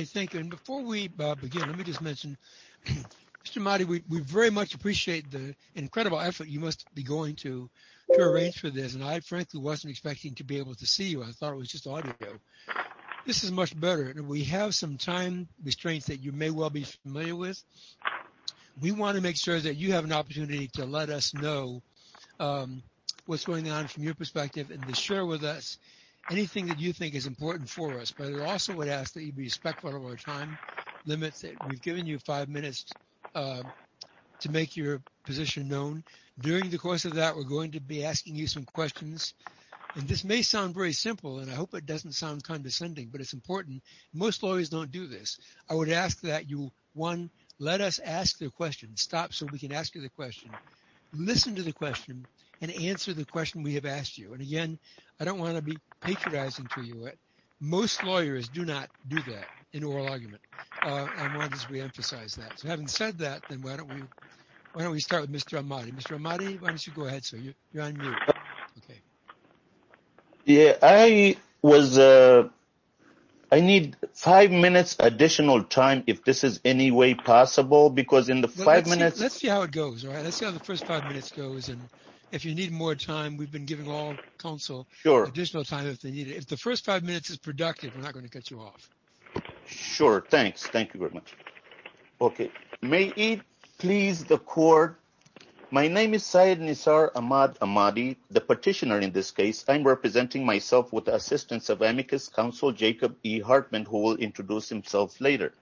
Thank you. And before we begin, let me just mention, Mr. Ahmadi, we very much appreciate the incredible effort you must be going to arrange for this. And I frankly wasn't expecting to be able to see you. I thought it was just audio. This is much better. We have some time restraints that you may well be familiar with. We want to make sure that you have an opportunity to let us know what's going on from your perspective and to share with us anything that you think is important for us. But I also would ask that you be respectful of our time limits. We've given you five minutes to make your position known. During the course of that, we're going to be asking you some questions. And this may sound very simple, and I hope it doesn't sound condescending, but it's important. Most lawyers don't do this. I would ask that you, one, let us ask the question. Stop so we can ask you the question. Listen to the question and answer the question we have asked you. And again, I don't want to be patronizing to you. Most lawyers do not do that in oral argument. I want to just reemphasize that. So having said that, then why don't we start with Mr. Ahmadi? Mr. Ahmadi, why don't you go ahead, sir? You're on mute. Okay. Yeah, I need five minutes additional time if this is any way possible, because in the five minutes... Let's see how it goes. Let's see how the first five minutes goes. And if you need more time, we've been giving all counsel additional time if they need it. If the first five minutes is productive, we're not going to cut you off. Sure. Thanks. Thank you very much. Okay. May it please the court. My name is Syed Nisar Ahmad Ahmadi, the petitioner in this case. I'm representing myself with the assistance of amicus counsel, Jacob E. Hartman, who will introduce himself later.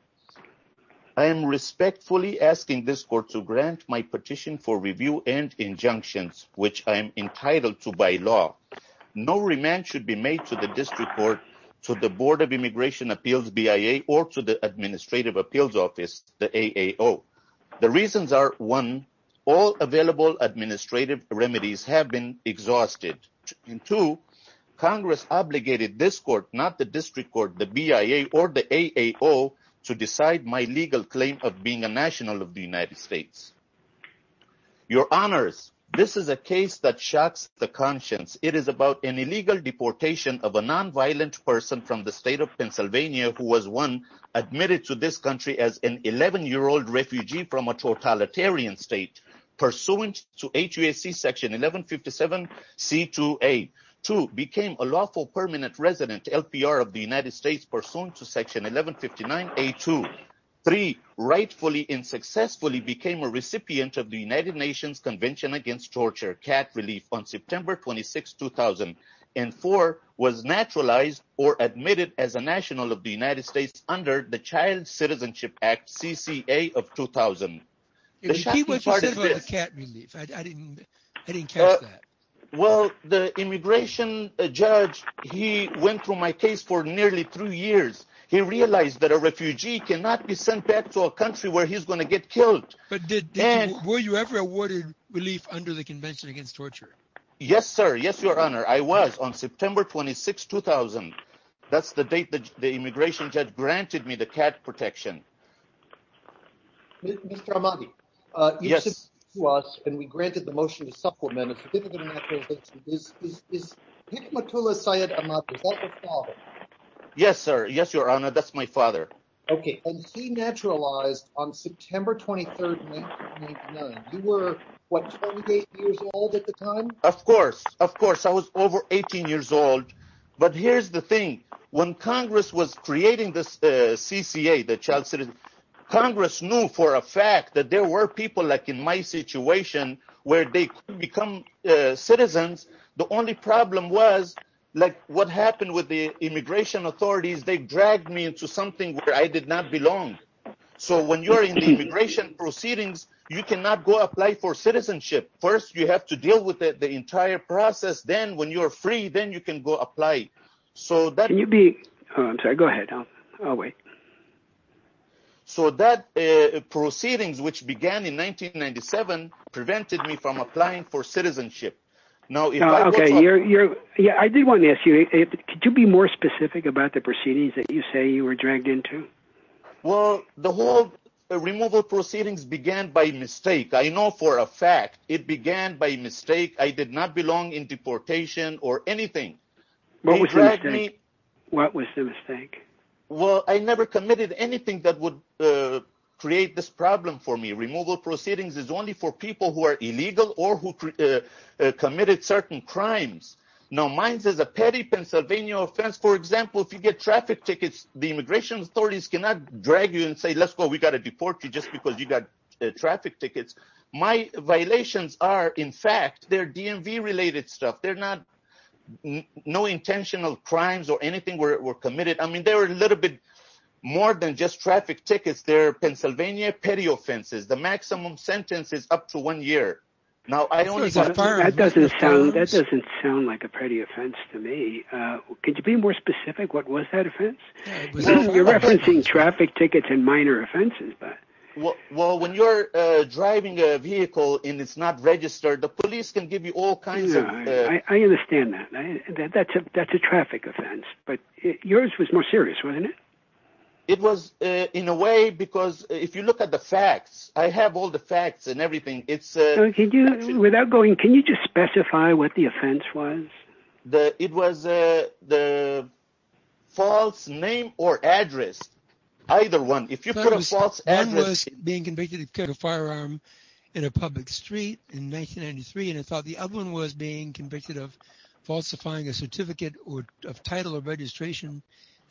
I am respectfully asking this court to grant my petition for review and injunctions, which I am entitled to by law. No remand should be made to the district court, to the Board of Immigration Appeals, BIA, or to the Administrative Appeals Office, the AAO. The reasons are, one, all available administrative remedies have been BIA or the AAO to decide my legal claim of being a national of the United States. Your honors, this is a case that shocks the conscience. It is about an illegal deportation of a non-violent person from the state of Pennsylvania who was, one, admitted to this country as an 11-year-old refugee from a totalitarian state, pursuant to HUSC Section 1157C2A. Two, became a lawful permanent resident LPR of the United States, pursuant to Section 1159A2. Three, rightfully and successfully became a recipient of the United Nations Convention Against Torture, CAT relief, on September 26, 2000. And four, was naturalized or admitted as a national of the United States under the Child Citizenship Act, CCA of 2000. The key was you said about the CAT relief. I didn't catch that. Well, the immigration judge, he went through my case for nearly three years. He realized that a refugee cannot be sent back to a country where he's going to get killed. But were you ever awarded relief under the Convention Against Torture? Yes, sir. Yes, your honor. I was, on September 26, 2000. That's the date that the immigration judge granted me the CAT protection. Mr. Ahmadi, you spoke to us and we granted the motion to supplement a certificate of naturalization. Is Hikmatullah Syed Ahmadi, is that your father? Yes, sir. Yes, your honor. That's my father. Okay. And he naturalized on September 23, 1999. You were, what, 28 years old at the time? Of course. Of course. I was over 18 years old. But here's the thing. When Congress was creating the CCA, the child citizen, Congress knew for a fact that there were people like in my situation where they could become citizens. The only problem was like what happened with the immigration authorities, they dragged me into something where I did not belong. So when you're in the immigration proceedings, you cannot go apply for citizenship. First, you have to deal with the entire process. Then when you're free, then you can go apply. So that... Can you be... Oh, I'm sorry. Go ahead. I'll wait. So that proceedings, which began in 1997, prevented me from applying for citizenship. Now... Okay. I did want to ask you, could you be more specific about the proceedings that you say you were dragged into? Well, the whole removal proceedings began by mistake. I know for a fact it began by mistake. I did not belong in deportation or anything. What was the mistake? Well, I never committed anything that would create this problem for me. Removal proceedings is only for people who are illegal or who committed certain crimes. Now, mine is a petty Pennsylvania offense. For example, if you get traffic tickets, the immigration authorities cannot drag you and say, let's go. We got to deport you just because you got traffic tickets. My violations are, in fact, they're DMV related stuff. They're not... No intentional crimes or anything were committed. I mean, they were a little bit more than just traffic tickets. They're Pennsylvania petty offenses. The maximum sentence is up to one year. Now, I only got... That doesn't sound like a petty offense to me. Could you be more specific? What was that offense? You're referencing traffic tickets and minor offenses. Well, when you're driving a vehicle and it's not registered, the police can give you all kinds of... I understand that. That's a traffic offense, but yours was more serious, wasn't it? It was in a way because if you look at the facts, I have all the facts and everything. Without going, can you just specify what the offense was? It was the false name or address, either one. If you put a false address... One was being convicted of carrying a firearm in a public street in 1993, and I thought the other one was being convicted of falsifying a certificate of title or registration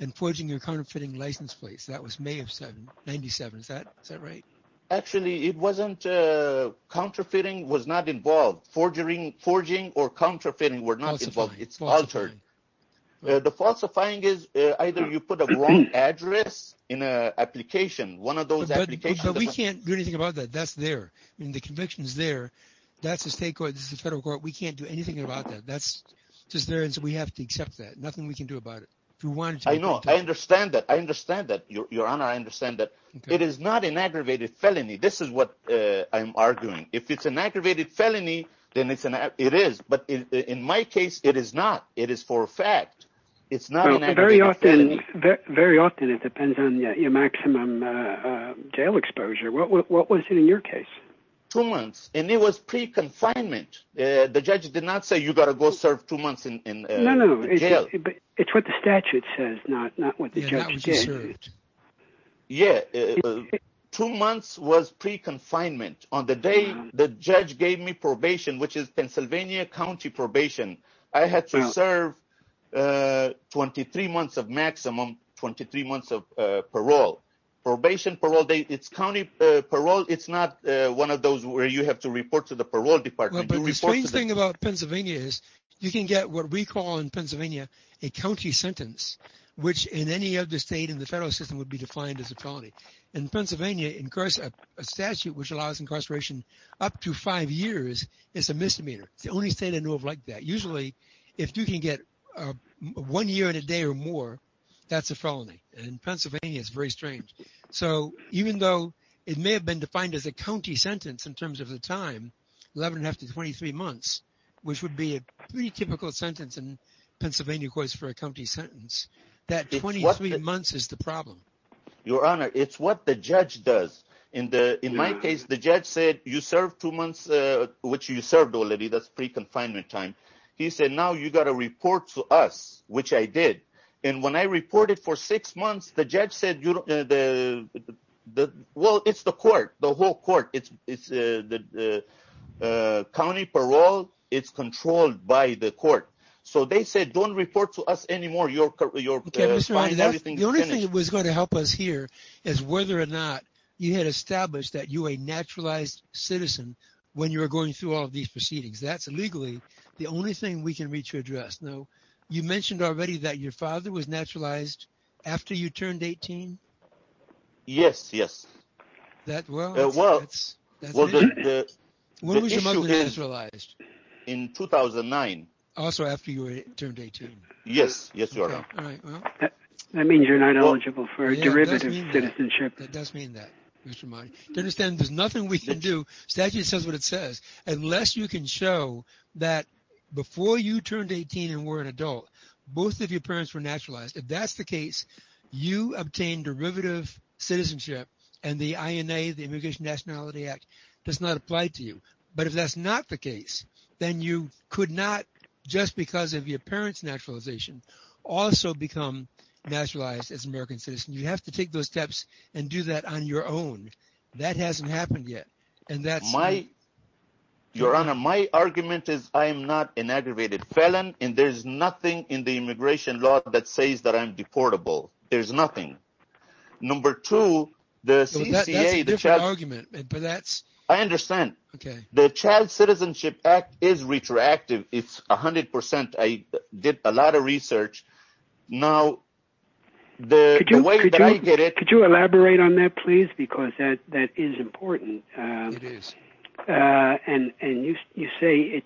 and forging your counterfeiting license plates. That was May of 97. Is that right? Actually, it wasn't... Falsifying or counterfeiting were not involved. It's altered. The falsifying is either you put a wrong address in an application. One of those applications... But we can't do anything about that. That's there. The conviction is there. That's a state court. This is a federal court. We can't do anything about that. That's just there, and so we have to accept that. Nothing we can do about it. I know. I understand that. I understand that, Your Honor. I understand that. It is not an aggravated felony. This is what I'm arguing. If it's an aggravated felony, then it is, but in my case, it is not. It is for a fact. It's not an aggravated felony. Very often, it depends on your maximum jail exposure. What was it in your case? Two months, and it was pre-confinement. The judge did not say, you got to go serve two months in jail. No, no. It's what the statute says, not what the judge did. Yeah. Two months was pre-confinement. On the day, the judge gave me probation, which is Pennsylvania County probation. I had to serve 23 months of maximum, 23 months of parole. Probation, parole, it's county parole. It's not one of those where you have to report to the parole department. The strange thing about Pennsylvania is, you can get what we call in Pennsylvania, a county sentence, which in any other state in the federal system would be defined as a felony. In Pennsylvania, a statute which allows incarceration up to five years is a misdemeanor. It's the only state I know of like that. Usually, if you can get one year and a day or more, that's a felony. In Pennsylvania, it's very strange. Even though it may have been defined as a county sentence in terms of the time, 11 and a half to 23 months, which would be a pretty typical sentence in Pennsylvania, of course, for a county sentence, that 23 months is the problem. Your Honor, it's what the judge does. In my case, the judge said, you served two months, which you served already. That's pre-confinement time. He said, now you got to report to us, which I did. When I reported for six months, the judge said, well, it's the court, the whole court. County parole, it's controlled by the court. They said, don't report to us anymore. Your Honor, the only thing that was going to help us here is whether or not you had established that you were a naturalized citizen when you were going through all of these proceedings. That's legally the only thing we can reach your address. Now, you mentioned already that your father was naturalized after you turned 18? Yes, yes. That well, that's... When was your mother naturalized? In 2009. Also after you turned 18? Yes, yes, Your Honor. That means you're not eligible for a derivative citizenship. That does mean that, Mr. Mahdi. To understand, there's nothing we can do, statute says what it says, unless you can show that before you turned 18 and were an adult, both of your parents were naturalized. If that's the case, you obtain derivative citizenship, and the INA, the Immigration Nationality Act, does not apply to you. But if that's not the case, then you could not, just because of your parents' naturalization, also become naturalized as an American citizen. You have to take those steps and do that on your own. That hasn't happened yet. And that's... Your Honor, my argument is I'm not an aggravated felon, and there's nothing in the immigration law that says that I'm deportable. There's nothing. Number two, the CCA... That's a different argument, but that's... I understand. The Child Citizenship Act is retroactive. It's 100%. I did a lot of research. Now, the way that I get it... Could you elaborate on that, please? Because that is important. It is. And you say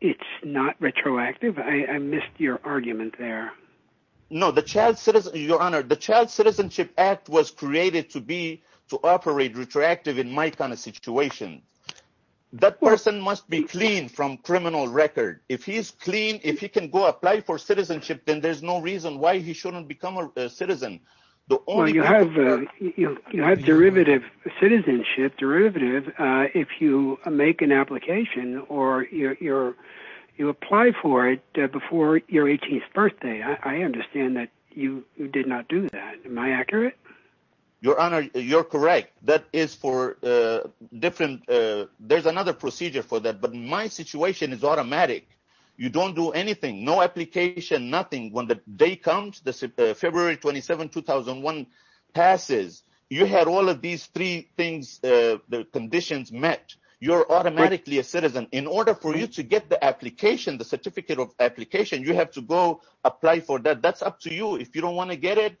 it's not retroactive. I missed your argument there. No, the Child Citizenship... Your Honor, the Child Citizenship Act was created to be, to operate retroactive in my kind of situation. That person must be clean from criminal record. If he's clean, if he can go apply for citizenship, then there's no reason why he shouldn't become a citizen. The only... Well, you have derivative citizenship, derivative, if you make an application or you apply for it before your 18th birthday. I understand that you did not do that. Am I accurate? Your Honor, you're correct. That is for different... There's another procedure for that, but my situation is automatic. You don't do anything, no application, nothing. When the day comes, the February 27, 2001 passes, you had all of these three things, the conditions met. You're automatically a citizen. In order for you to get the application, the certificate of application, you have to go apply for that. That's up to you. If you don't want to get it,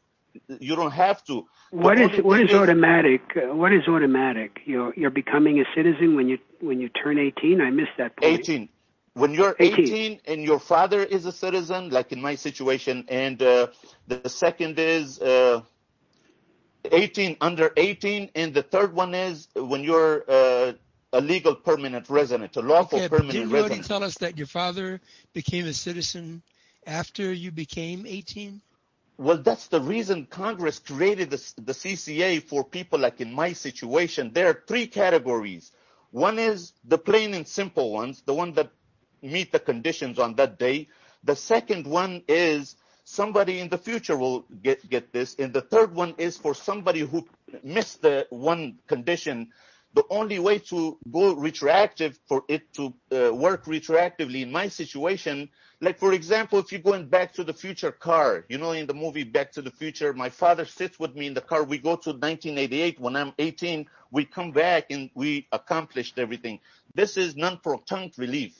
you don't have to. What is automatic? You're becoming a citizen when you turn 18? I missed that point. 18. When you're 18 and your father is a citizen, like in my situation, and the second is under 18, and the third one is when you're a legal permanent resident, a lawful permanent resident. Can you tell us that your father became a citizen after you became 18? That's the reason Congress created the CCA for people like in my situation. There are three categories. One is the plain and simple ones, the ones that meet the conditions on that day. The second one is somebody in the future will get this. The third one is for somebody who missed the one condition. The only way to go retroactive for it to work retroactively in my situation, like for example, if you're going back to the future car, in the movie Back to the Future, my father sits with me in the car. We go to 1988. When I'm 18, we come back and we accomplished everything. This is non-proton relief.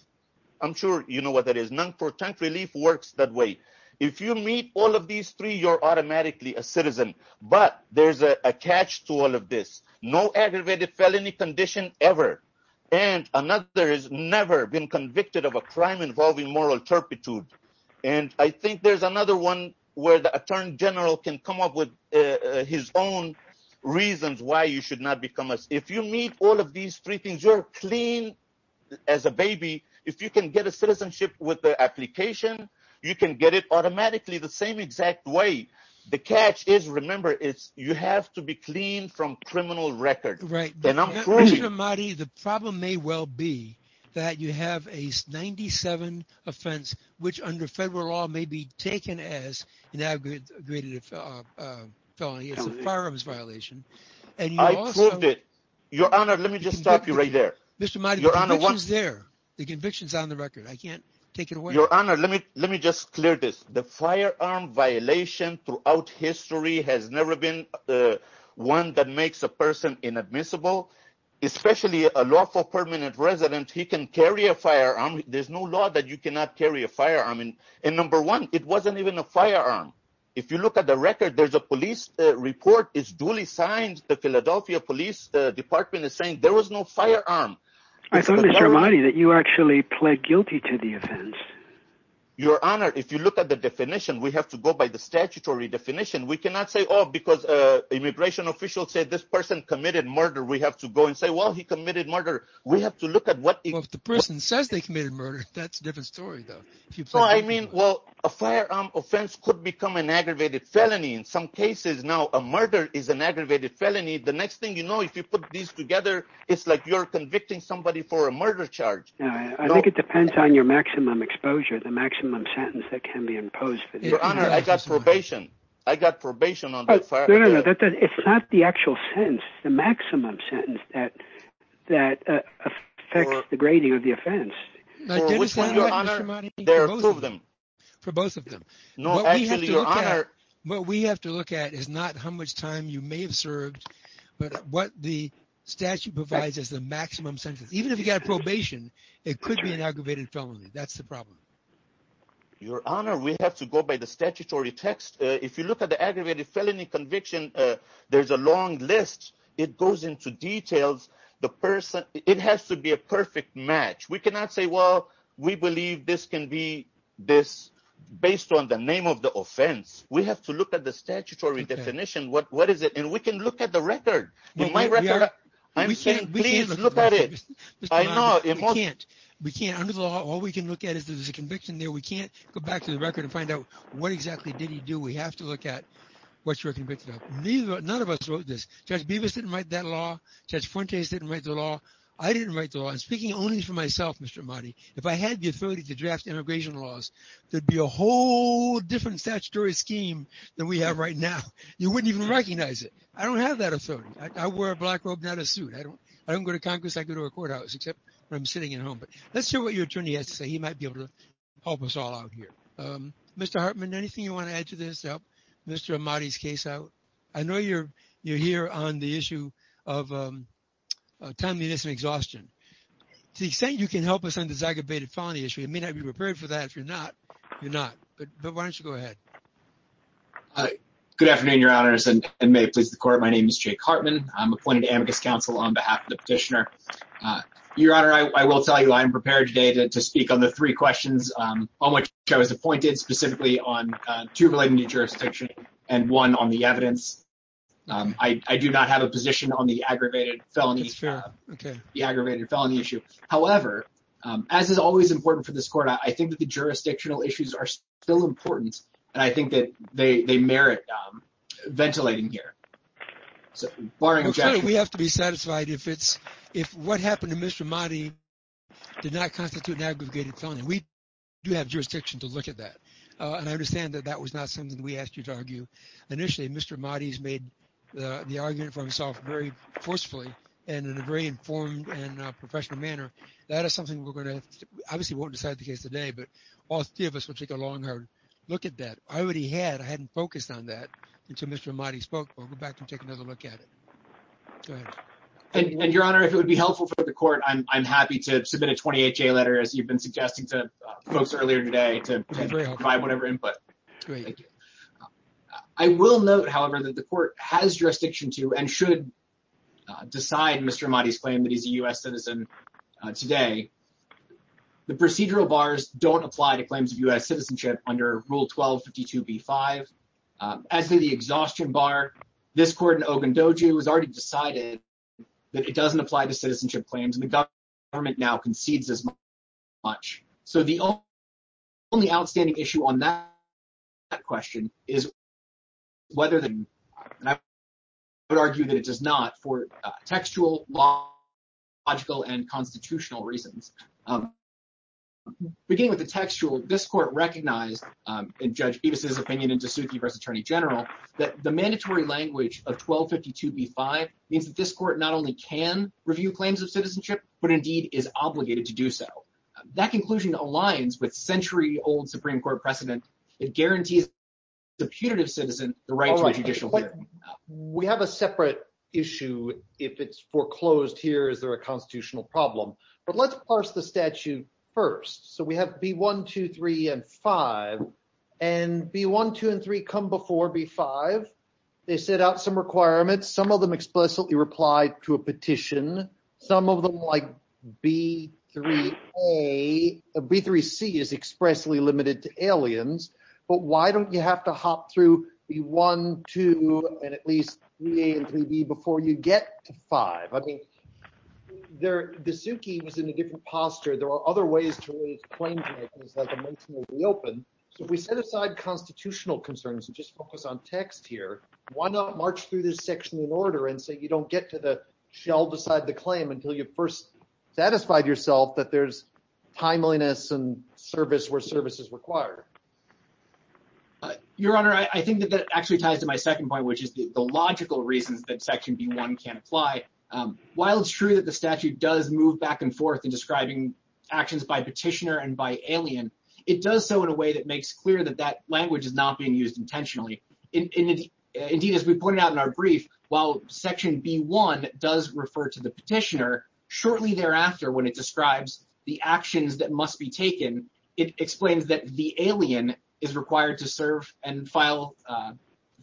I'm sure you know what that is. Non-proton relief works that way. If you meet all of these three, you're automatically a citizen, but there's a catch to all of this. No aggravated felony condition ever, and another has never been convicted of a crime involving moral turpitude. I think there's another one where the attorney general can come up with his own reasons why you should not become a citizen. If you meet all of these three things, you're clean as a baby. If you can get a citizenship with the application, you can get it automatically the same exact way. The catch is, remember, you have to be clean from criminal record. Right. Mr. Ahmadi, the problem may well be that you have a 97 offense, which under federal law may be taken as an aggravated felony. It's a firearms violation. I proved it. Your Honor, let me just stop you right there. Mr. Ahmadi, the conviction's there. The conviction's on the record. I can't take it away. Your Honor, let me just clear this. The firearm violation throughout history has never been one that makes a person inadmissible, especially a lawful permanent resident. He can carry a firearm. There's no law that you cannot carry a firearm. And number one, it wasn't even a firearm. If you look at the record, there's a police report. It's duly signed. The Philadelphia Police Department is saying there was no firearm. I thought, Mr. Ahmadi, that you actually pled guilty to the offense. Your Honor, if you look at the definition, we have to go by the statutory definition. We cannot say, oh, because immigration officials say this person committed murder. We have to go and say, well, he committed murder. We have to look at what the person says they committed murder. That's a different story, though. So I mean, well, a firearm offense could become an aggravated felony in some cases. Now, murder is an aggravated felony. The next thing you know, if you put these together, it's like you're convicting somebody for a murder charge. I think it depends on your maximum exposure, the maximum sentence that can be imposed. Your Honor, I got probation. I got probation on the firearm. No, no, no. It's not the actual sentence. It's the maximum sentence that affects the grading of the offense. For which one, Your Honor? For both of them. No, actually, Your Honor. What we have to look at is not how much time you may have served, but what the statute provides is the maximum sentence. Even if you got probation, it could be an aggravated felony. That's the problem. Your Honor, we have to go by the statutory text. If you look at the aggravated felony conviction, there's a long list. It goes into details. It has to be a perfect match. We cannot say, well, we believe this can be this based on the name of the offense. We have to look at the statutory definition. What is it? And we can look at the record. In my record, I'm saying, please, look at it. I know. We can't. Under the law, all we can look at is there's a conviction there. We can't go back to the record and find out what exactly did he do. We have to look at what you're convicted of. None of us wrote this. Judge Bevis didn't write that law. Judge Fuentes didn't write the law. I didn't write the law. And speaking only for myself, if I had the authority to draft immigration laws, there'd be a whole different statutory scheme than we have right now. You wouldn't even recognize it. I don't have that authority. I wear a black robe, not a suit. I don't go to Congress. I go to a courthouse, except when I'm sitting at home. But let's hear what your attorney has to say. He might be able to help us all out here. Mr. Hartman, anything you want to add to this to help Mr. Amati's case out? I know you're here on the issue of timeliness and exhaustion. To the extent you can help us on this aggravated felony issue, you may not be prepared for that. If you're not, you're not. But why don't you go ahead? Good afternoon, Your Honor. And may it please the court, my name is Jake Hartman. I'm appointed to Amicus Council on behalf of the petitioner. Your Honor, I will tell you I am prepared today to speak on the three questions on which I was appointed, specifically on two relating to jurisdiction and one on the evidence. I do not have a position on the aggravated felony issue. However, as is always important for this court, I think that the jurisdictional issues are still important. And I think that they merit ventilating here. We have to be satisfied if what happened to Mr. Amati did not constitute an aggravated felony. We do have jurisdiction to look at that. And I understand that that was not something that we asked you to argue. Initially, Mr. Amati's made the argument for himself very forcefully and in a very informed and professional manner. That is something we're going to, obviously won't decide the case today, but all three of us will take a long hard look at that. I already had, I hadn't focused on that until Mr. Amati spoke. We'll go back and take another look at it. Go ahead. And Your Honor, if it would be helpful for the court, I'm happy to suggest to folks earlier today to provide whatever input. I will note, however, that the court has jurisdiction to and should decide Mr. Amati's claim that he's a U.S. citizen today. The procedural bars don't apply to claims of U.S. citizenship under Rule 1252b-5. As for the exhaustion bar, this court in Ogundoju has already decided that it doesn't apply to citizenship claims. And the so the only outstanding issue on that question is whether, and I would argue that it does not, for textual, logical, and constitutional reasons. Beginning with the textual, this court recognized in Judge Evas' opinion in DeSothi v. Attorney General, that the mandatory language of 1252b-5 means that this court not only can review claims of citizenship, but indeed is obligated to do so. That conclusion aligns with century-old Supreme Court precedent. It guarantees the putative citizen the right to a judicial hearing. We have a separate issue if it's foreclosed here. Is there a constitutional problem? But let's parse the statute first. So we have B-1, 2, 3, and 5. And B-1, 2, and 3 come before B-5. They set out some requirements. Some of them explicitly reply to a petition. Some of them, like B-3a, B-3c is expressly limited to aliens. But why don't you have to hop through B-1, 2, and at least B-3a and B-3b before you get to 5? I mean, DeSothi was in a different posture. There are other ways to raise claims like a motion to reopen. So if we set aside constitutional concerns and just focus on text here, why not parse through this section in order and so you don't get to the shell beside the claim until you first satisfied yourself that there's timeliness and service where service is required? Your Honor, I think that that actually ties to my second point, which is the logical reasons that Section B-1 can't apply. While it's true that the statute does move back and forth in describing actions by petitioner and by alien, it does so in a way that makes clear that that language is not used intentionally. Indeed, as we pointed out in our brief, while Section B-1 does refer to the petitioner, shortly thereafter, when it describes the actions that must be taken, it explains that the alien is required to serve and file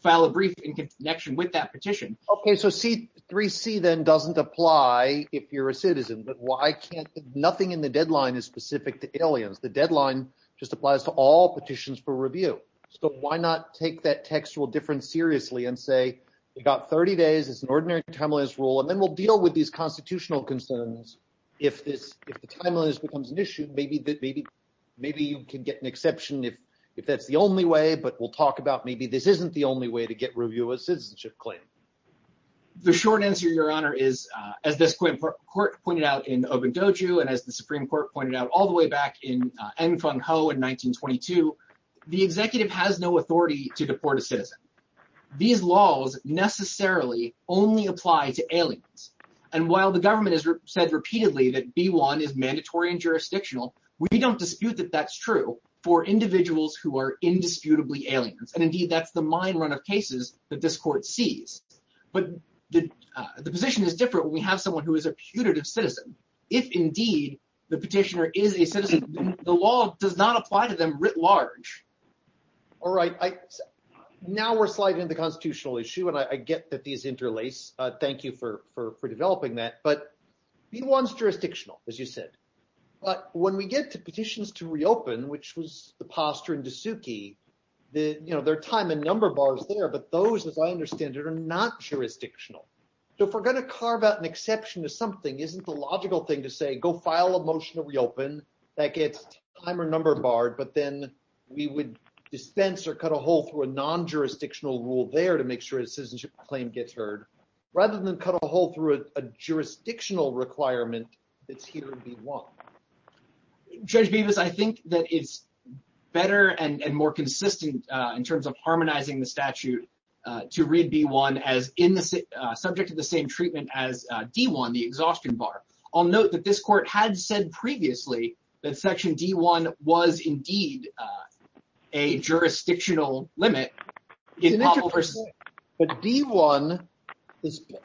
a brief in connection with that petition. Okay. So C-3c then doesn't apply if you're a citizen, but why can't nothing in the deadline is specific to aliens? The deadline just applies to all petitions for review. So why not take that textual difference seriously and say, you got 30 days, it's an ordinary timeliness rule, and then we'll deal with these constitutional concerns. If the timeliness becomes an issue, maybe you can get an exception if that's the only way, but we'll talk about maybe this isn't the only way to get review of a citizenship claim. The short answer, Your Honor, is as this court pointed out in Obundoju, and as the Supreme Court pointed out all the way back in Enfenghou in 1922, the executive has no authority to deport a citizen. These laws necessarily only apply to aliens. And while the government has said repeatedly that B-1 is mandatory and jurisdictional, we don't dispute that that's true for individuals who are indisputably aliens. And indeed, that's the mind run of cases that this court sees. But the position is different when we have someone who is a putative citizen. If indeed, the petitioner is a citizen, the law does not apply to them writ large. All right. Now we're sliding into the constitutional issue, and I get that these interlace. Thank you for developing that. But B-1's jurisdictional, as you said. But when we get to petitions to reopen, which was the posture in Dasuki, there are time and number bars there, but those, as I understand it, are not jurisdictional. So if we're going to carve out an exception to something, isn't the logical thing to say, go file a motion to reopen that gets time or number barred, but then we would dispense or cut a hole through a non-jurisdictional rule there to make sure a citizenship claim gets heard, rather than cut a hole through a jurisdictional requirement that's here in B-1? Judge Bevis, I think that it's better and more consistent in terms of harmonizing the statute to read B-1 as subject to the same treatment as D-1, the exhaustion bar. I'll note that this court had said previously that Section D-1 was indeed a jurisdictional limit. But D-1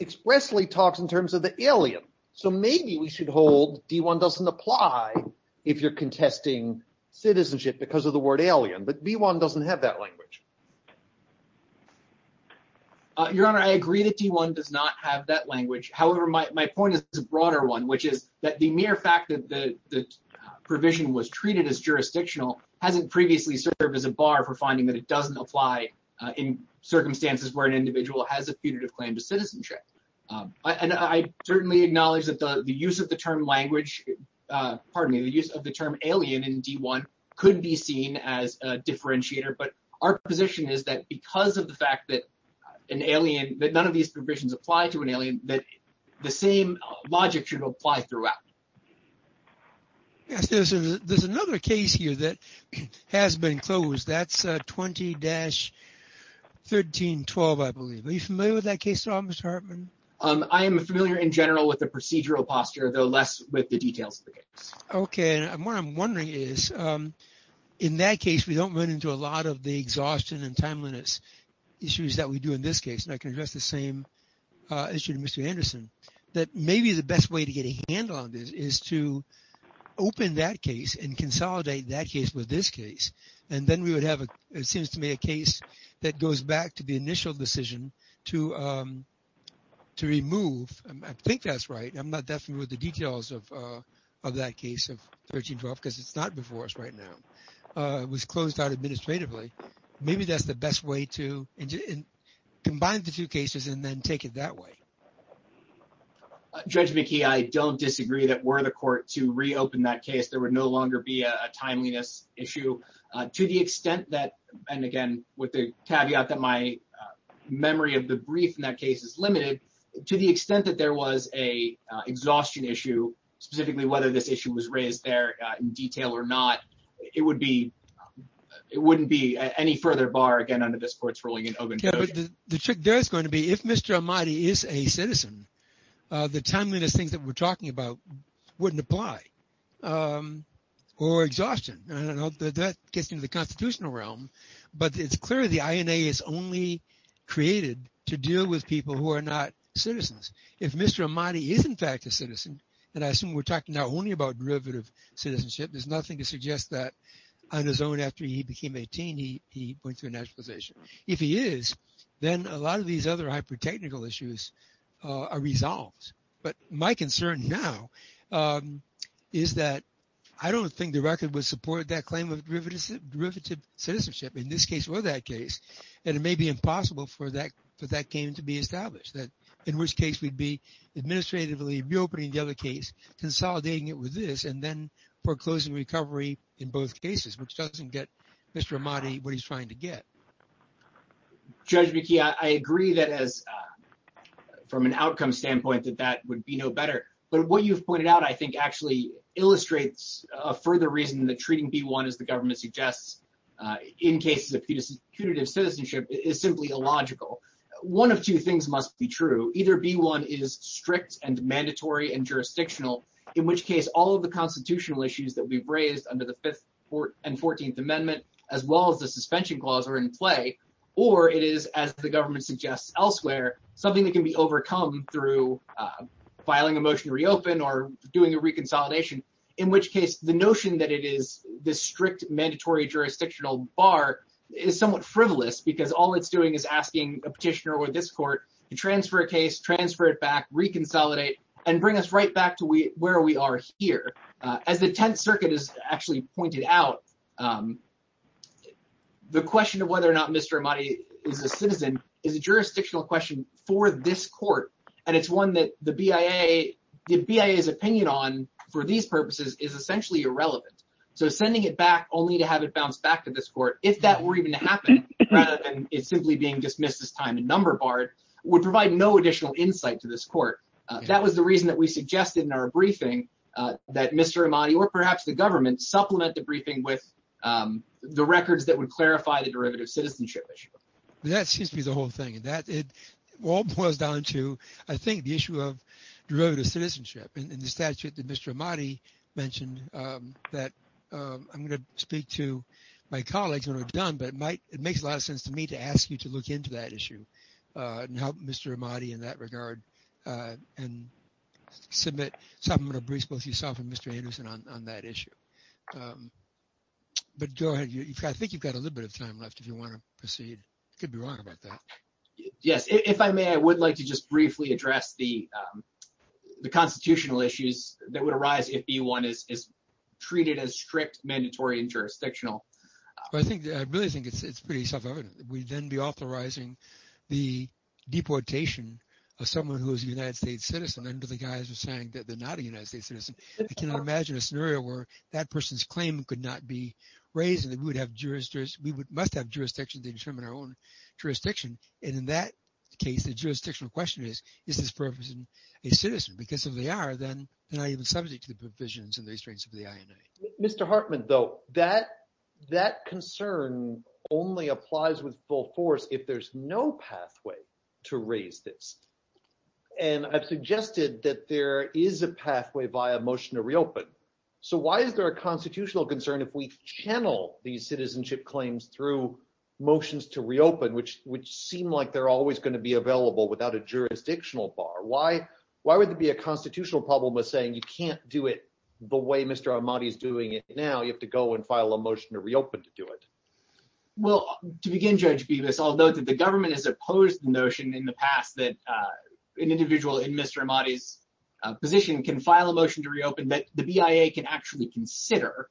expressly talks in terms of the alien. So maybe we should hold D-1 doesn't apply if you're contesting citizenship because of the word alien, but B-1 However, my point is a broader one, which is that the mere fact that the provision was treated as jurisdictional hasn't previously served as a bar for finding that it doesn't apply in circumstances where an individual has a punitive claim to citizenship. And I certainly acknowledge that the use of the term language, pardon me, the use of the term alien in D-1 could be seen as a differentiator, but our position is that because of the fact that an alien, that none of these provisions apply to an alien, that the same logic should apply throughout. Yes, there's another case here that has been closed. That's 20-1312, I believe. Are you familiar with that case at all, Mr. Hartman? I am familiar in general with the procedural posture, though less with the details of the case. Okay, and what I'm wondering is, in that case, we don't run into a lot of the exhaustion and timeliness issues that we do in this case. And I can address the same issue to Mr. Anderson, that maybe the best way to get a handle on this is to open that case and consolidate that case with this case. And then we would have, it seems to me, a case that goes back to the initial decision to remove, I think that's right, I'm not that familiar with the details of that case of 1312, because it's not before us right now. It was closed out administratively. Maybe that's the best way to combine the two cases and then take it that way. Judge McKee, I don't disagree that were the court to reopen that case, there would no longer be a timeliness issue to the extent that, and again, with the caveat that my memory of the brief in that case is limited, to the extent that there was a exhaustion issue, specifically whether this it wouldn't be any further bar, again, under this court's ruling in Oguntoya. The trick there is going to be, if Mr. Ahmadi is a citizen, the timeliness things that we're talking about wouldn't apply or exhaustion. And I don't know that that gets into the constitutional realm, but it's clear the INA is only created to deal with people who are not citizens. If Mr. Ahmadi is in fact a citizen, and I assume we're talking now only about derivative citizenship, there's nothing to suggest that on his own after he became 18, he went through a naturalization. If he is, then a lot of these other hyper-technical issues are resolved. But my concern now is that I don't think the record would support that claim of derivative citizenship in this case or that case. And it may be impossible for that game to be established, that in which case we'd be administratively reopening the other case, consolidating it and then foreclosing recovery in both cases, which doesn't get Mr. Ahmadi what he's trying to get. Judge McKee, I agree that, from an outcome standpoint, that that would be no better. But what you've pointed out, I think, actually illustrates a further reason that treating B-1, as the government suggests, in cases of punitive citizenship is simply illogical. One of two things must be true. Either B-1 is strict and mandatory and jurisdictional, in which case all of the constitutional issues that we've raised under the Fifth and Fourteenth Amendment, as well as the suspension clause, are in play. Or it is, as the government suggests elsewhere, something that can be overcome through filing a motion to reopen or doing a reconsolidation, in which case the notion that it is this strict, mandatory jurisdictional bar is somewhat frivolous, because all it's doing is asking a petitioner or this court to transfer a case, transfer it back, reconsolidate, and bring us right back to where we are here. As the Tenth Circuit has actually pointed out, the question of whether or not Mr. Ahmadi is a citizen is a jurisdictional question for this court. And it's one that the BIA, the BIA's opinion on, for these purposes, is essentially irrelevant. So sending it back only to have it bounce back to this court, if that were even to happen, rather than it simply being dismissed as time and number barred, would provide no additional insight to this court. That was the reason that we suggested in our briefing that Mr. Ahmadi, or perhaps the government, supplement the briefing with the records that would clarify the derivative citizenship issue. That seems to be the whole thing. And that, it all boils down to, I think, the issue of derivative citizenship and the statute that Mr. Ahmadi mentioned that I'm going to speak to my colleagues when we're done, but it makes a lot of sense to me to ask you to look into that issue and help Mr. Ahmadi in that regard and submit. So I'm going to brief both yourself and Mr. Anderson on that issue. But go ahead. I think you've got a little bit of time left if you want to proceed. I could be wrong about that. Yes. If I may, I would like to just briefly address the constitutional issues that would arise if B1 is treated as strict, mandatory, and jurisdictional. I really think it's pretty self-evident. We'd then be authorizing the deportation of someone who is a United States citizen under the guise of saying that they're not a United States citizen. I cannot imagine a scenario where that person's claim could not be raised and that we would have jurisdictions, we must have jurisdictions to determine our own jurisdiction. And in that case, the jurisdictional question is, is this person a citizen? Because if they are, then they're not even subject to the provisions and the restraints of the INA. Mr. Hartman, though, that concern only applies with full force if there's no pathway to raise this. And I've suggested that there is a pathway via motion to reopen. So why is there a constitutional concern if we channel these citizenship claims through motions to reopen, which seem like they're always going to be available without a jurisdictional bar? Why would there be a constitutional problem with saying you can't do it the way Mr. Ahmadi is doing it now? You have to go and file a motion to reopen to do it. Well, to begin, Judge Bevis, I'll note that the government has opposed the notion in the past that an individual in Mr. Ahmadi's position can file a motion to reopen that the BIA can actually consider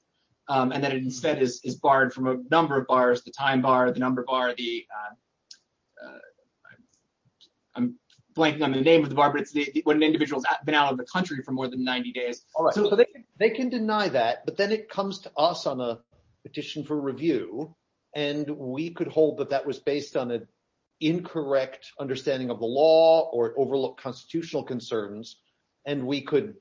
and that it instead is barred from a number of bars, the time bar, the number bar, the... I'm blanking on the name of the bar, but it's when an individual's been out of the country for more than 90 days. They can deny that, but then it comes to us on a petition for review, and we could hold that that was based on an incorrect understanding of the law or overlooked constitutional concerns, and we could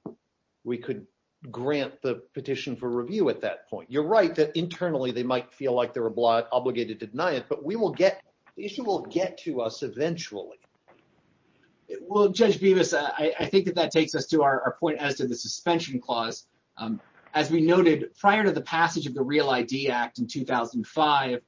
grant the petition for review at that point. You're right that internally they might feel like they're obligated to deny it, but the issue will get to us eventually. Well, Judge Bevis, I think that that takes us to our point as to the suspension clause. As we noted, prior to the passage of the REAL ID Act in 2005,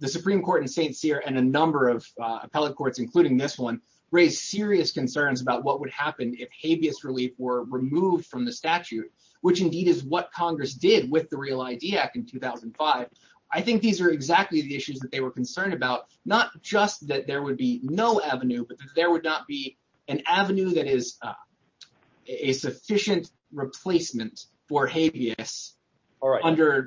the Supreme Court in St. Cyr and a number of appellate courts, including this one, raised serious concerns about what would happen if habeas relief were removed from the statute, which indeed is what Congress did with the REAL ID Act in 2005. I think these are exactly the issues that they were concerned about, not just that there would be no avenue, but that there would not be an avenue that is a sufficient replacement for habeas. But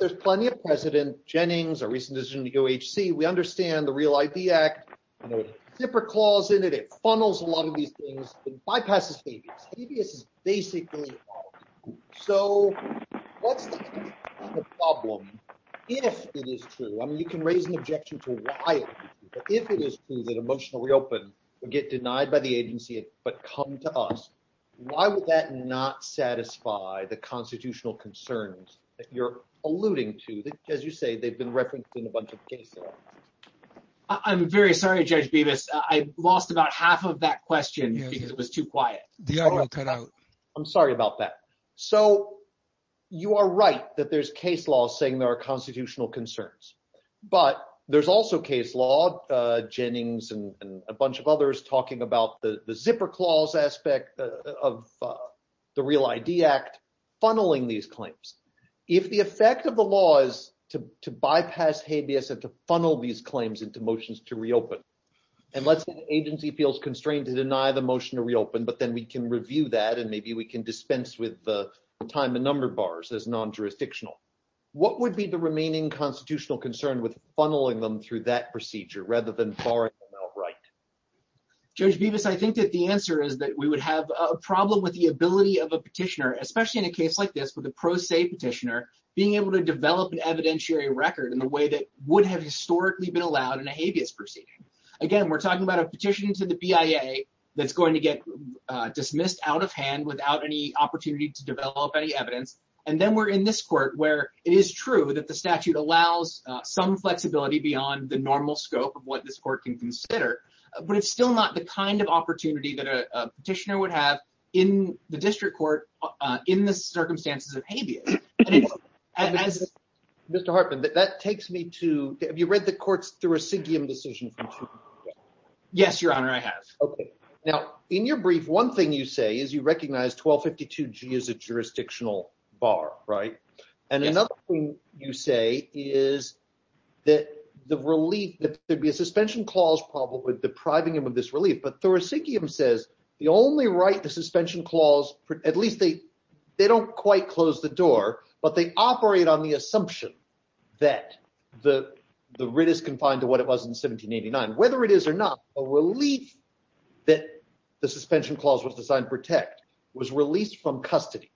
there's plenty of precedent. Jennings, our recent decision to go to H.C., we understand the REAL ID Act. There's a zipper clause in it. It funnels a lot of these things and bypasses habeas. Habeas is basically... So, what's the problem if it is true? I mean, you can raise an objection to why it is true, but if it is true that emotional reopen would get denied by the agency but come to us, why would that not satisfy the constitutional concerns that you're alluding to? As you say, they've been referenced in a bunch of cases. I'm very sorry, Judge Bevis. I lost about half of that question because it was too quiet. The audio cut out. I'm sorry about that. So, you are right that there's case laws saying there are constitutional concerns, but there's also case law, Jennings and a bunch of others talking about the zipper clause aspect of the REAL ID Act funneling these claims. If the effect of the law is to bypass habeas and to funnel these claims into motions to reopen, and let's say the agency feels constrained to deny the motion to reopen, but then we can review that and maybe we can dispense with the time and number bars as non-jurisdictional, what would be the remaining constitutional concern with funneling them through that procedure rather than borrowing them outright? Judge Bevis, I think that the answer is that we would have a problem with the ability of a petitioner, especially in a case like this with a pro se petitioner, being able to develop an evidentiary record in a way that would have historically been allowed in a habeas proceeding. Again, we're talking about a petition to the BIA that's going to get dismissed out of hand without any opportunity to develop any evidence, and then we're in this court where it is true that the statute allows some flexibility beyond the normal scope of what this court can consider, but it's still not the kind of opportunity that a petitioner would have in the district court in the circumstances of habeas. Mr. Hartman, that takes me to, have you read the court's decision? Yes, Your Honor, I have. Okay. Now, in your brief, one thing you say is you recognize 1252G is a jurisdictional bar, right? And another thing you say is that the relief, that there'd be a suspension clause problem with depriving him of this relief, but Thoracicum says the only right, the suspension clause, at least they don't quite close the door, but they operate on the assumption that the writ is confined to what it was in 1789. Whether it is or not, a relief that the suspension clause was designed to protect was released from custody.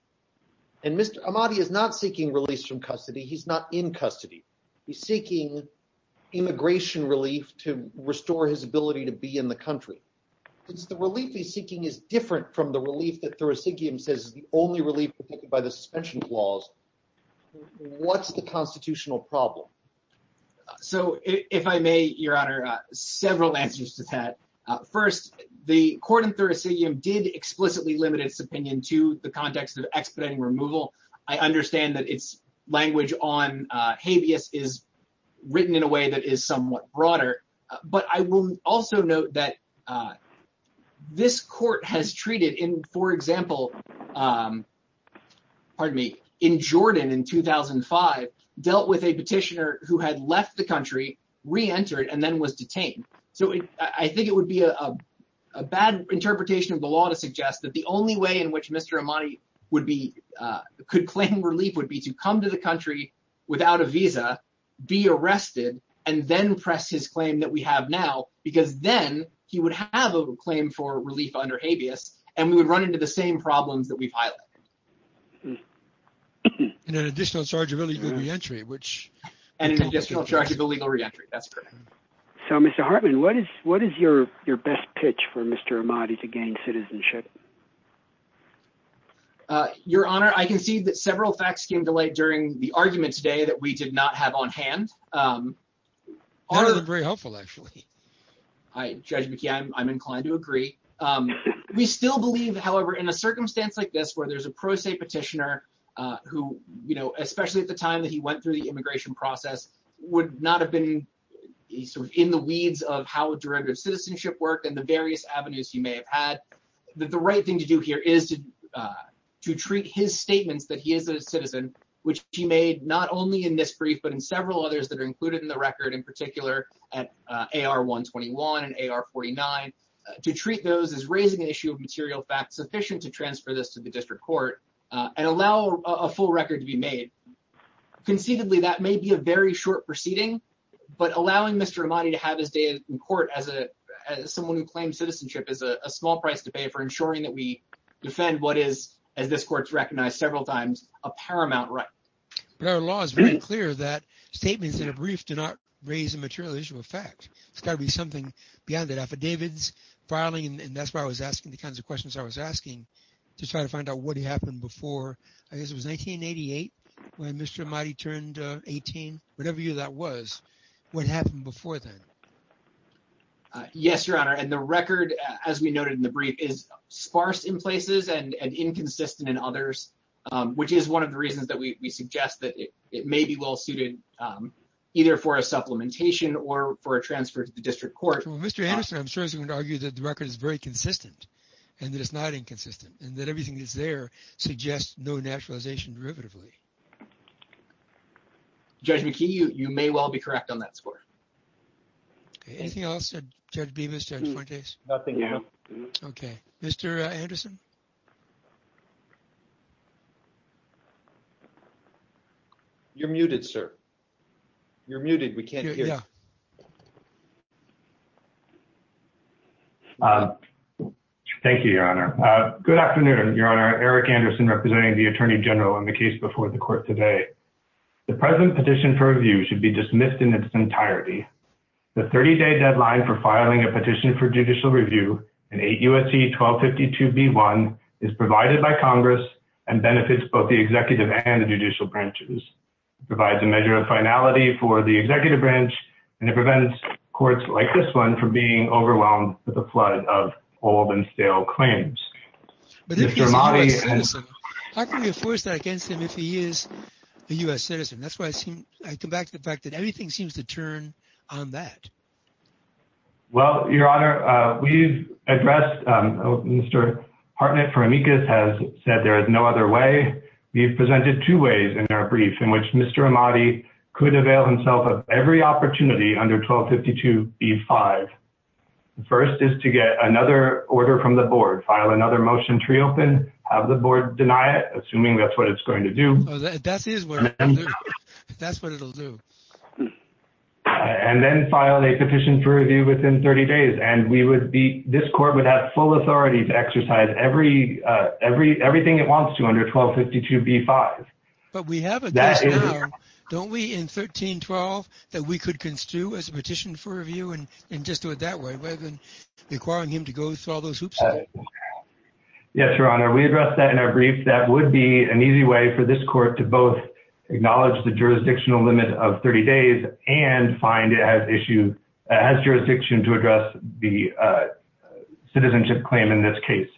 And Mr. Amati is not seeking release from custody. He's not in custody. He's seeking immigration relief to restore his ability to be in the country. It's the relief he's seeking is different from the relief that Thoracicum says is the only relief protected by the suspension clause. What's the constitutional problem? So if I may, Your Honor, several answers to that. First, the court in Thoracicum did explicitly limit its opinion to the context of expediting removal. I understand that its language on habeas is written in a way that is somewhat broader, but I will also note that this court has treated in, for example, pardon me, in Jordan in 2005, dealt with a petitioner who had left the country, reentered, and then was detained. So I think it would be a bad interpretation of the law to suggest that the only way in which Mr. Amati could claim relief would be to come to the country without a visa, be arrested, and then press his claim that we have now, because then he would have a claim for relief under habeas, and we would run into the same problems that we've highlighted. And an additional charge of illegal reentry, which... And an additional charge of illegal reentry. That's correct. So, Mr. Hartman, what is your best pitch for Mr. Amati to gain citizenship? Your Honor, I can see that several facts came to light during the argument today that we did not have on hand. They were very helpful, actually. I, Judge McKee, I'm inclined to agree. We still believe, however, in a circumstance like this, where there's a pro se petitioner who, you know, especially at the time that he went through the immigration process, would not have been in the weeds of how derivative citizenship worked and the various avenues he may have had, that the right thing to do here is to treat his statements that he is a citizen, which he made not only in this brief, but in several others that are included in the record, in particular at AR 121 and AR 49, to treat those as raising an issue of material facts sufficient to transfer this to the district court and allow a full record to be made. Conceitedly, that may be a very short proceeding, but allowing Mr. Amati to have his day in court as someone who claims citizenship is a small price to pay for ensuring that we defend what is, as this court's recognized several times, a paramount right. But our law is very clear that statements in a brief do not raise a material issue of fact. It's got to be something beyond the affidavits, filing, and that's why I was asking the kinds of questions I was asking to try to find out what happened before, I guess it was 1988, when Mr. Amati turned 18, whatever year that was, what happened before then? Yes, Your Honor, and the record, as we noted in the brief, is sparse in places and inconsistent in others, which is one of the reasons that we suggest that it may be well-suited either for a supplementation or for a transfer to the district court. Well, Mr. Anderson, I'm sure he's going to argue that the record is very consistent and that it's not inconsistent and that everything that's there suggests no naturalization derivatively. Judge McKee, you may well be correct on that score. Anything else, Judge Bemis, Judge Fuentes? Nothing, Your Honor. Okay. Mr. Anderson? You're muted, sir. You're muted. We can't hear you. Thank you, Your Honor. Good afternoon, Your Honor. Eric Anderson representing the Attorney General on the case before the court today. The present petition for review should be dismissed in its entirety. The 30-day deadline for filing a petition for judicial review in 8 U.S.C. 1252-B1 is provided by Congress and benefits both the executive and the judicial branches. It provides a measure of finality for the executive branch, and it prevents courts like this one from being overwhelmed with a flood of old and stale claims. How can you force that against him if he is a U.S. citizen? I come back to the fact that everything seems to turn on that. Well, Your Honor, we've addressed Mr. Hartnett for amicus has said there is no other way. We've presented two ways in our brief in which Mr. Amati could avail himself of every opportunity under 1252-B5. First is to get another order from the board, file another motion, tree open, have the board deny it, assuming that's what it's going to do. That's what it'll do. And then file a petition for review within 30 days. And this court would have full authority to exercise everything it wants to under 1252-B5. But we have a case now, don't we, in 1312, that we could construe as a petition for review and just do it that way, rather than requiring him to go through all those hoops? Yes, Your Honor, we addressed that in our brief. That would be an easy way for this court to both acknowledge the jurisdictional limit of 30 days and find it has jurisdiction to address the citizenship claim in this case.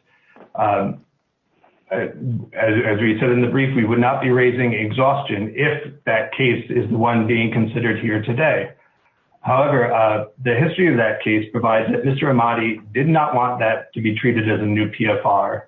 As we said in the brief, we would not be raising exhaustion if that case is the one being considered here today. However, the history of that case provides that Mr. Amati did not want that to be treated as a new PFR.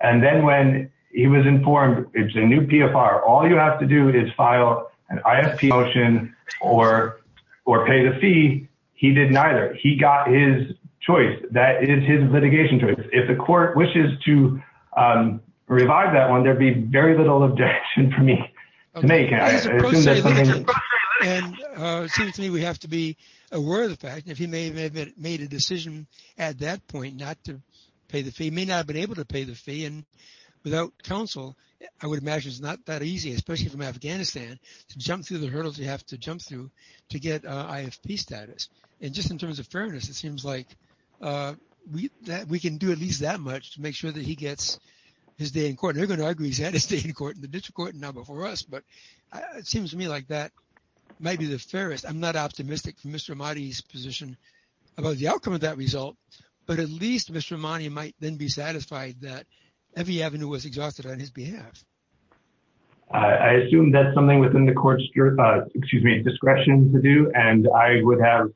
And then when he was informed it's a new PFR, all you have to do is file an ISP motion or pay the fee. He did neither. He got his choice. That is his litigation choice. If the court wishes to revive that one, there'd be very little objection for me to make. And it seems to me we have to be aware of the fact, if he may have made a decision at that point not to pay the fee, may not have been able to pay the fee. And without counsel, I would imagine it's not that easy, especially from Afghanistan, to jump through the hurdles you have to jump through to get IFP status. And just in terms of fairness, it seems like we can do at least that much to make sure that he gets his day in court. They're going to argue he's had his day in court in the district court and now before us. But it seems to me like that might be the fairest. I'm not optimistic for Mr. Amati's position about the outcome of that result, but at least Mr. Amati might then be satisfied that Evy Avenue was exhausted on his behalf. I assume that's something within the court's discretion to do, and I would have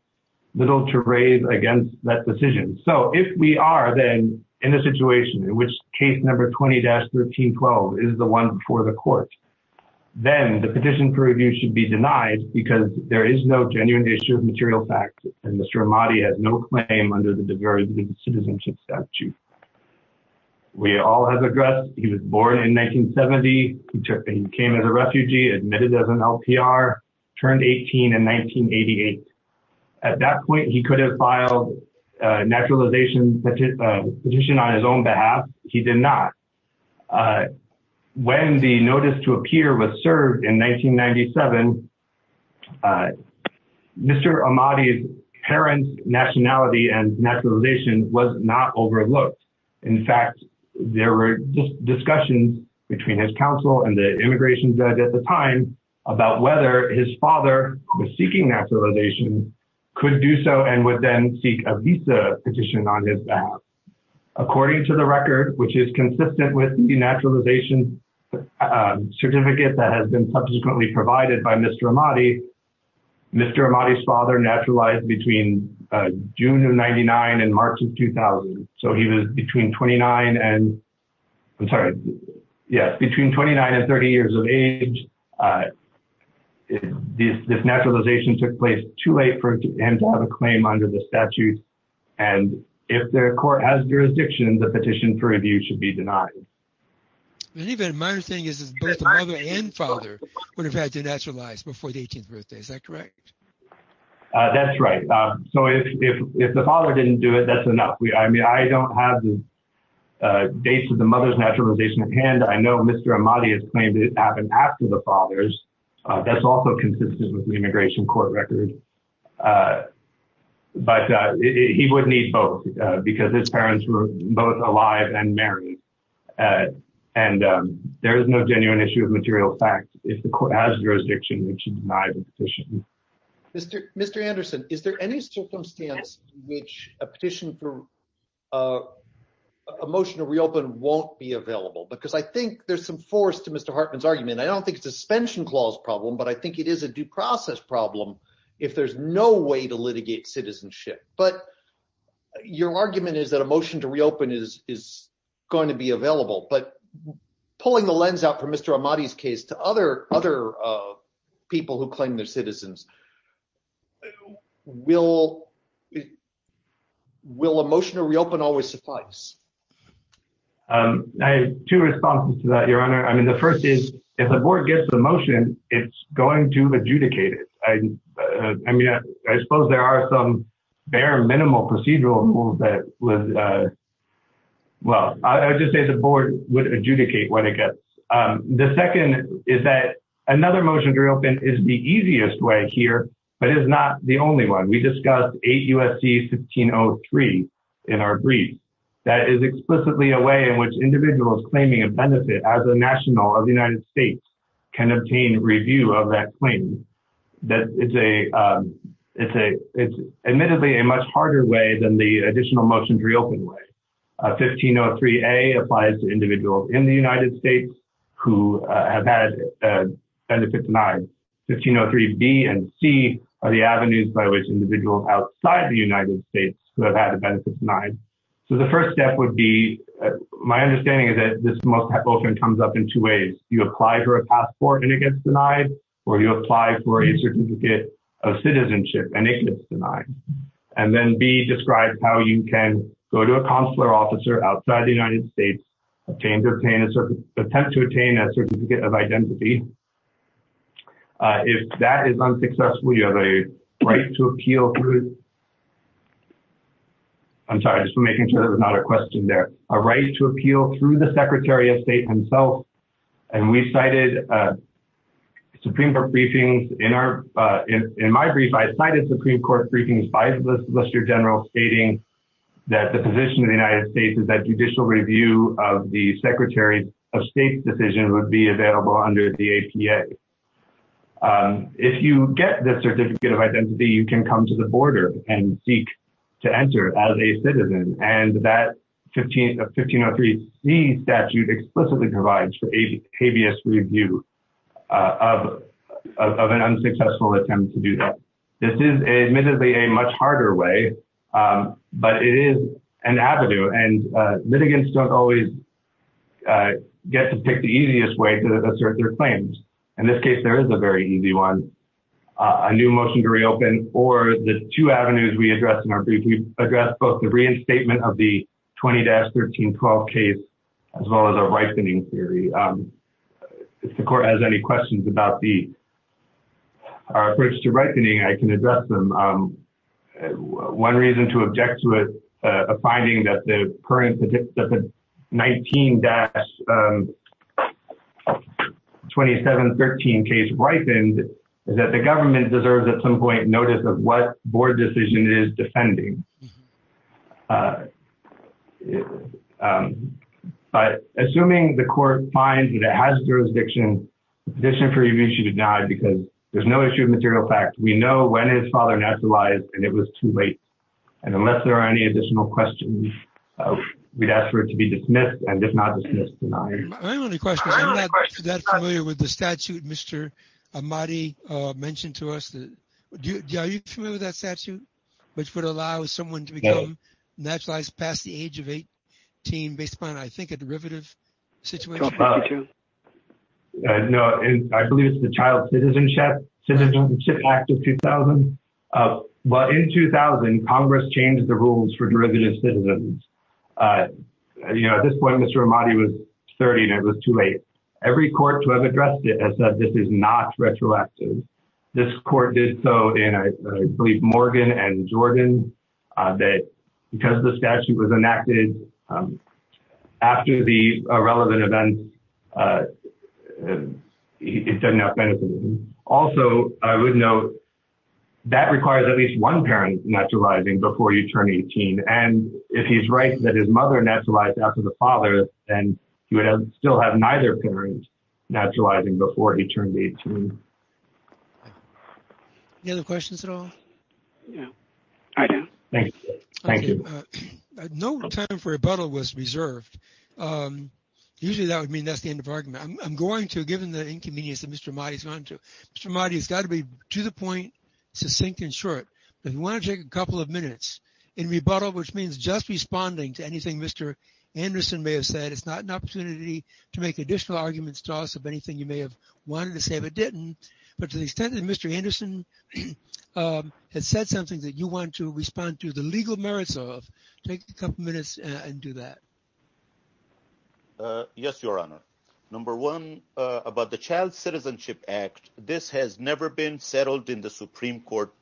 little to rave against that decision. So if we are then in a situation in which case number 20-1312 is the one before the court, then the petition for review should be denied because there is no genuine issue of material facts and Mr. Amati has no claim under the Diversity and Citizenship Statute. We all have addressed he was born in 1970. He came as a refugee, admitted as an LPR, turned 18 in 1988. At that point, he could have filed a naturalization petition on his own behalf. He did not. When the notice to appear was served in 1997, Mr. Amati's parents' nationality and naturalization was not overlooked. In fact, there were discussions between his counsel and the immigration judge at the time about whether his father, who was seeking naturalization, could do so and would then seek a visa petition on his behalf. According to the record, which is consistent with the naturalization certificate that has been subsequently provided by Mr. Amati, Mr. Amati's father naturalized between June of 99 and March of 2000. So he was between 29 and 30 years of age. This naturalization took place too late for him to have a claim under the statute. And if their court has jurisdiction, the petition for review should be denied. And even my understanding is both the mother and father would have had to naturalize before the 18th birthday. Is that correct? That's right. So if the father didn't do it, that's enough. I mean, I don't have the dates of the mother's naturalization at hand. I know Mr. Amati has claimed it happened after the father's. That's also consistent with the immigration court record. But he would need both because his parents were both alive and married. And there is no genuine issue of material fact. If the court has jurisdiction, it should deny the petition. Mr. Anderson, is there any circumstance in which a petition for a motion to reopen won't be available? Because I think there's some force to Mr. Hartman's argument. I don't think it's a suspension clause problem, but I think it is a due process problem if there's no way to litigate citizenship. But your argument is that a motion to reopen is going to be available. But pulling the lens out from Mr. Amati's case to other people who claim they're citizens, will a motion to reopen always suffice? I have two responses to that, Your Honor. I mean, the first is if the board gets the motion, it's going to adjudicate it. I mean, I suppose there are some bare minimal procedural rules that would... Well, I would just say the board would adjudicate when it gets. The second is that another motion to reopen is the easiest way here, but is not the only one. We discussed 8 U.S.C. 1503 in our brief. That is explicitly a way in which individuals claiming a benefit as a national of the United States can obtain review of that claim. That is admittedly a much harder way than the additional motion to reopen way. 1503A applies to individuals in the United States who have had a benefit denied. 1503B and C are the avenues by which individuals outside the United States who have had a benefit denied. So the first step would be... My understanding is that this motion comes up in two ways. You apply for a passport and it gets denied, or you apply for a certificate of citizenship and it gets denied. And then B describes how you can go to a consular officer outside the United States, attempt to attain a certificate of identity. If that is unsuccessful, you have a right to appeal through... I'm sorry, just making sure there was not a question there. A right to appeal through the Secretary of State himself. And we cited Supreme Court briefings in our... In my brief, I cited Supreme Court briefings by the Solicitor General stating that the position of the United States is that judicial review of the Secretary of State's decision would be available under the APA. If you get the certificate of identity, you can come to the border and seek to enter as a citizen. And that 1503C statute explicitly provides for habeas review of an unsuccessful attempt to do that. This is admittedly a much harder way, but it is an avenue. And litigants don't always get to pick the easiest way to assert their claims. In this case, there is a very easy one. A new motion to reopen or the two avenues we addressed in our brief. We addressed both the reinstatement of the 20-1312 case, as well as a ripening theory. If the court has any questions about the... Our approach to ripening, I can address them. One reason to object to it, a finding that the current 19-2713 case ripened, that the government deserves at some point notice of what board decision it is defending. But assuming the court finds that it has jurisdiction, the position for review should be denied because there's no issue of material fact. We know when his father nationalized and it was too late. And unless there are any additional questions, we'd ask for it to be dismissed and if not dismissed, denied. I have a question. I'm not that familiar with the statute Mr. Ahmadi mentioned to us. Are you familiar with that statute, which would allow someone to be naturalized past the age of 18 based upon, I think, a derivative situation? No, I believe it's the Child Citizenship Act of 2000. Well, in 2000, Congress changed the rules for derivative citizens. At this point, Mr. Ahmadi was 30 and it was too late. Every court to have addressed it has said this is not retroactive. This court did so in, I believe, Morgan and Jordan, that because the statute was enacted after the relevant events, it doesn't have benefit. Also, I would note that requires at least one parent naturalizing before you turn 18. And if he's right that his mother naturalized after the father, then he would still have neither parent naturalizing before he turned 18. Any other questions at all? No, I do. Thank you. No time for rebuttal was reserved. Usually, that would mean that's the end of argument. I'm going to, given the inconvenience that Mr. Ahmadi is going to, Mr. Ahmadi has got to be, to the point, succinct and short. If you want to take a couple of minutes in rebuttal, which means just responding to anything Mr. Anderson may have said. It's not an opportunity to make additional arguments to us of anything you may have wanted to say, but didn't. But to the extent that Mr. Anderson has said something that you want to respond to the legal merits of, take a couple minutes and do that. Yes, Your Honor. Number one, about the Child Citizenship Act, this has never been settled in the Supreme Court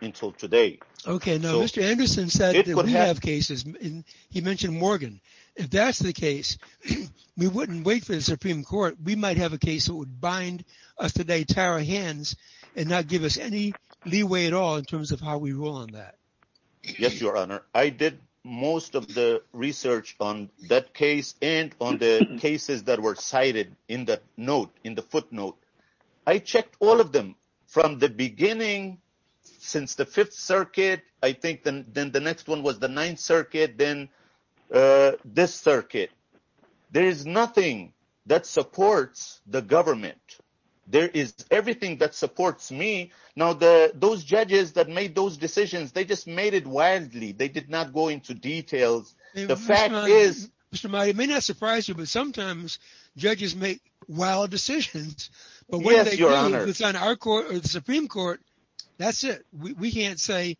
until today. Okay. Now, Mr. Anderson said that we have cases, and he mentioned Morgan. If that's the case, we wouldn't wait for the Supreme Court. We might have a case that would bind us today, tie our hands, and not give us any leeway at all in terms of how we rule on that. Yes, Your Honor. I did most of the research on that case and on the cases that were cited in the note, in the footnote. I checked all of them from the beginning, since the Fifth Circuit. I think then the next one was the Ninth Circuit, then this circuit. There is nothing that supports the government. There is everything that supports me. Now, those judges that made those decisions, they just made it wildly. They did not go into details. The fact is… Mr. Maida, it may not surprise you, but sometimes judges make wild decisions. Yes, Your Honor. But when they do, it's on our court or the Supreme Court, that's it. We can't say,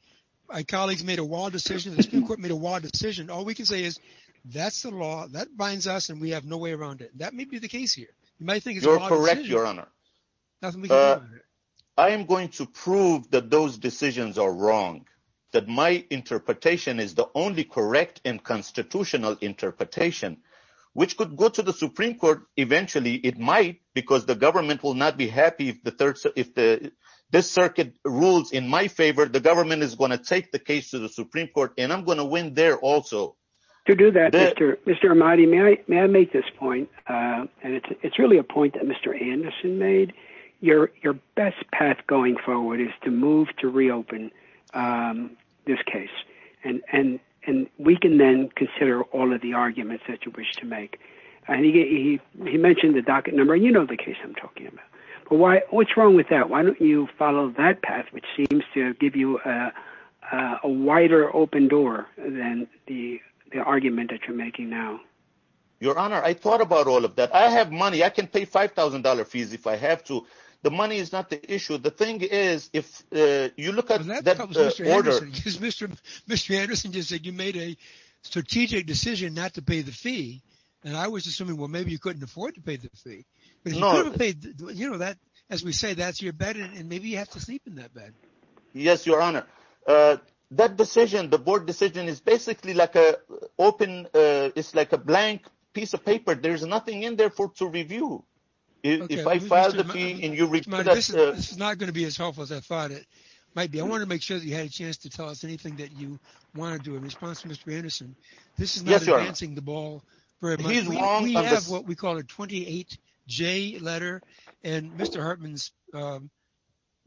my colleagues made a wild decision, the Supreme Court made a wild decision. All we can say is, that's the law, that binds us, and we have no way around it. That may be the case here. You're correct, Your Honor. I am going to prove that those decisions are wrong, that my interpretation is the only correct and constitutional interpretation, which could go to the Supreme Court eventually. It might, because the government will not be happy if this circuit rules in my favor. The government is going to take the case to the Supreme Court, and I'm going to win there also. To do that, Mr. Ahmadi, may I make this point? It's really a point that Mr. Anderson made. Your best path going forward is to move to reopen this case. We can then consider all of the arguments that you wish to make. He mentioned the docket number. You know the case I'm talking about. What's wrong with that? Why don't you follow that path, which seems to give you a wider open door than the argument that you're making now? Your Honor, I thought about all of that. I have money. I can pay $5,000 fees if I have to. The money is not the issue. The thing is, if you look at that order... Mr. Anderson just said you made a strategic decision not to pay the fee, and I was assuming, well, maybe you couldn't afford to pay the fee. As we say, that's your bed, and maybe you have to sleep in that bed. Yes, Your Honor. That decision, the board decision, is basically like a blank piece of paper. There's nothing in there to review. If I file the fee and you... Mr. Ahmadi, this is not going to be as helpful as I thought it might be. I wanted to make sure that you had a chance to tell us anything that you wanted to in response to Mr. Anderson. This is not advancing the ball very much. We have what we call a 28-J letter, and Mr. Hartman's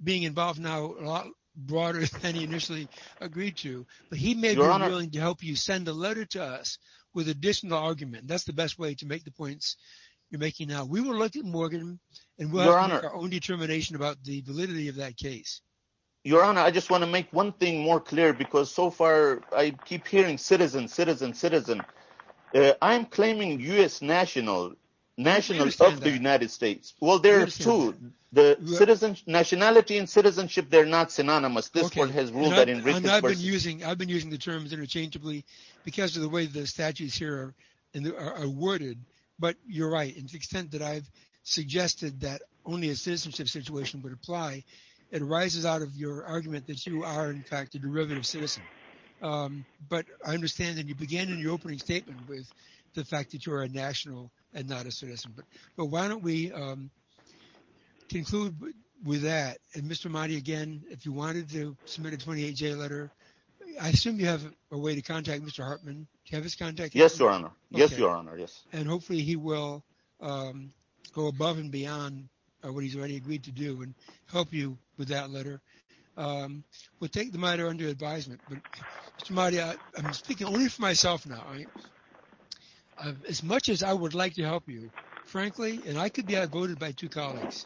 being involved now is a lot broader than he initially agreed to, but he may be willing to help you send a letter to us with additional argument. That's the best way to make the points you're making now. We will look at Morgan, and we'll have to make our own determination about the validity of that case. Your Honor, I just want to make one thing more clear, because so far I keep hearing citizen, citizen, citizen. I'm claiming U.S. national, nationals of the United States. Well, there are two. The citizen, nationality and citizenship, they're not synonymous. This court has ruled that in recent... I've been using the terms interchangeably because of the way the statutes here are worded, but you're right. The extent that I've suggested that only a citizenship situation would apply, it arises out of your argument that you are, in fact, a derivative citizen. But I understand that you began in your opening statement with the fact that you are a national and not a citizen, but why don't we conclude with that? And Mr. Mahdi, again, if you wanted to submit a 28-J letter, I assume you have a way to contact Mr. Hartman. Do you have his contact? Yes, Your Honor. Yes, Your Honor, yes. And hopefully he will go above and beyond what he's already agreed to do and help you with that letter. We'll take the matter under advisement, but Mr. Mahdi, I'm speaking only for myself now. As much as I would like to help you, frankly, and I could be outvoted by two colleagues,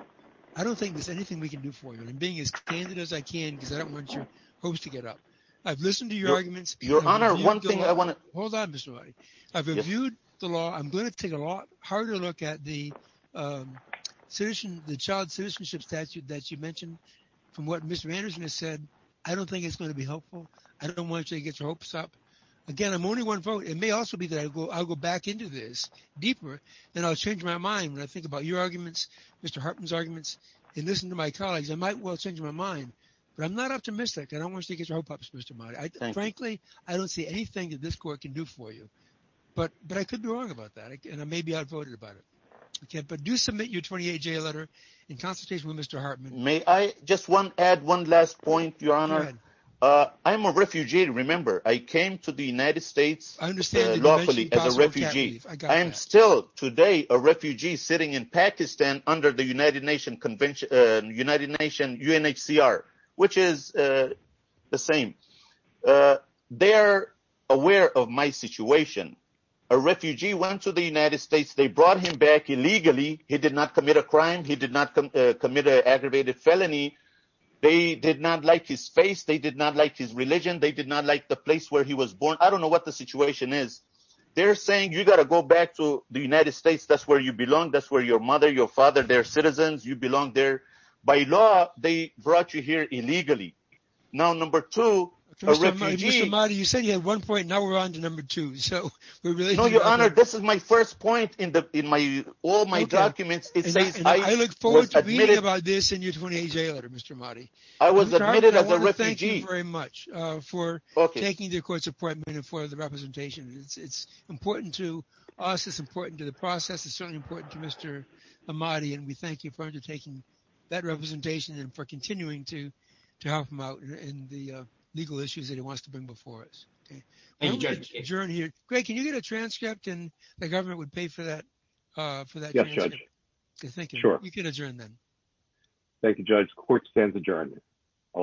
I don't think there's anything we can do for you. And I'm being as candid as I can because I don't want your hopes to get up. I've listened to your arguments. Your Honor, one thing I want to... Hold on, Mr. Mahdi. I've reviewed the law. I'm going to take a lot harder look at the child citizenship statute that you mentioned from what Mr. Anderson has said. I don't think it's going to be helpful. I don't want you to get your hopes up. Again, I'm only one vote. It may also be that I'll go back into this deeper and I'll change my mind when I think about your arguments, Mr. Hartman's arguments, and listen to my colleagues. I might well change my mind, but I'm not optimistic. I don't want you to get your hopes up, Mr. Mahdi. Frankly, I don't see anything that this court can do for you. But I could be wrong about that, and maybe I'd voted about it. But do submit your 28-J letter in consultation with Mr. Hartman. May I just add one last point, Your Honor? I'm a refugee. Remember, I came to the United States lawfully as a refugee. I am still today a refugee sitting in Pakistan under the United Nations UNHCR, which is the same. They are aware of my situation. A refugee went to the United States. They brought him back illegally. He did not commit a crime. He did not commit an aggravated felony. They did not like his face. They did not like his religion. They did not like the place where he was born. I don't know what the situation is. They're saying, you got to go back to the United States. That's where you belong. That's where your mother, your father, their citizens, you belong there. By law, they brought you here illegally. Now, number two, a refugee... Mr. Hamadi, you said you had one point. Now we're on to number two. So we're really... No, Your Honor, this is my first point in all my documents. It says I was admitted... I look forward to reading about this in your 28-J letter, Mr. Hamadi. I was admitted as a refugee. Mr. Hartman, I want to thank you very much for taking the Court's appointment and for the representation. It's important to us. It's important to the process. It's certainly important to Mr. Hamadi. And we thank you for undertaking that representation and for continuing to help him out in the legal issues that he wants to bring before us. Thank you, Judge. Greg, can you get a transcript? And the government would pay for that transcript. Yes, Judge. Thank you. You can adjourn then. Thank you, Judge. Court stands adjourned.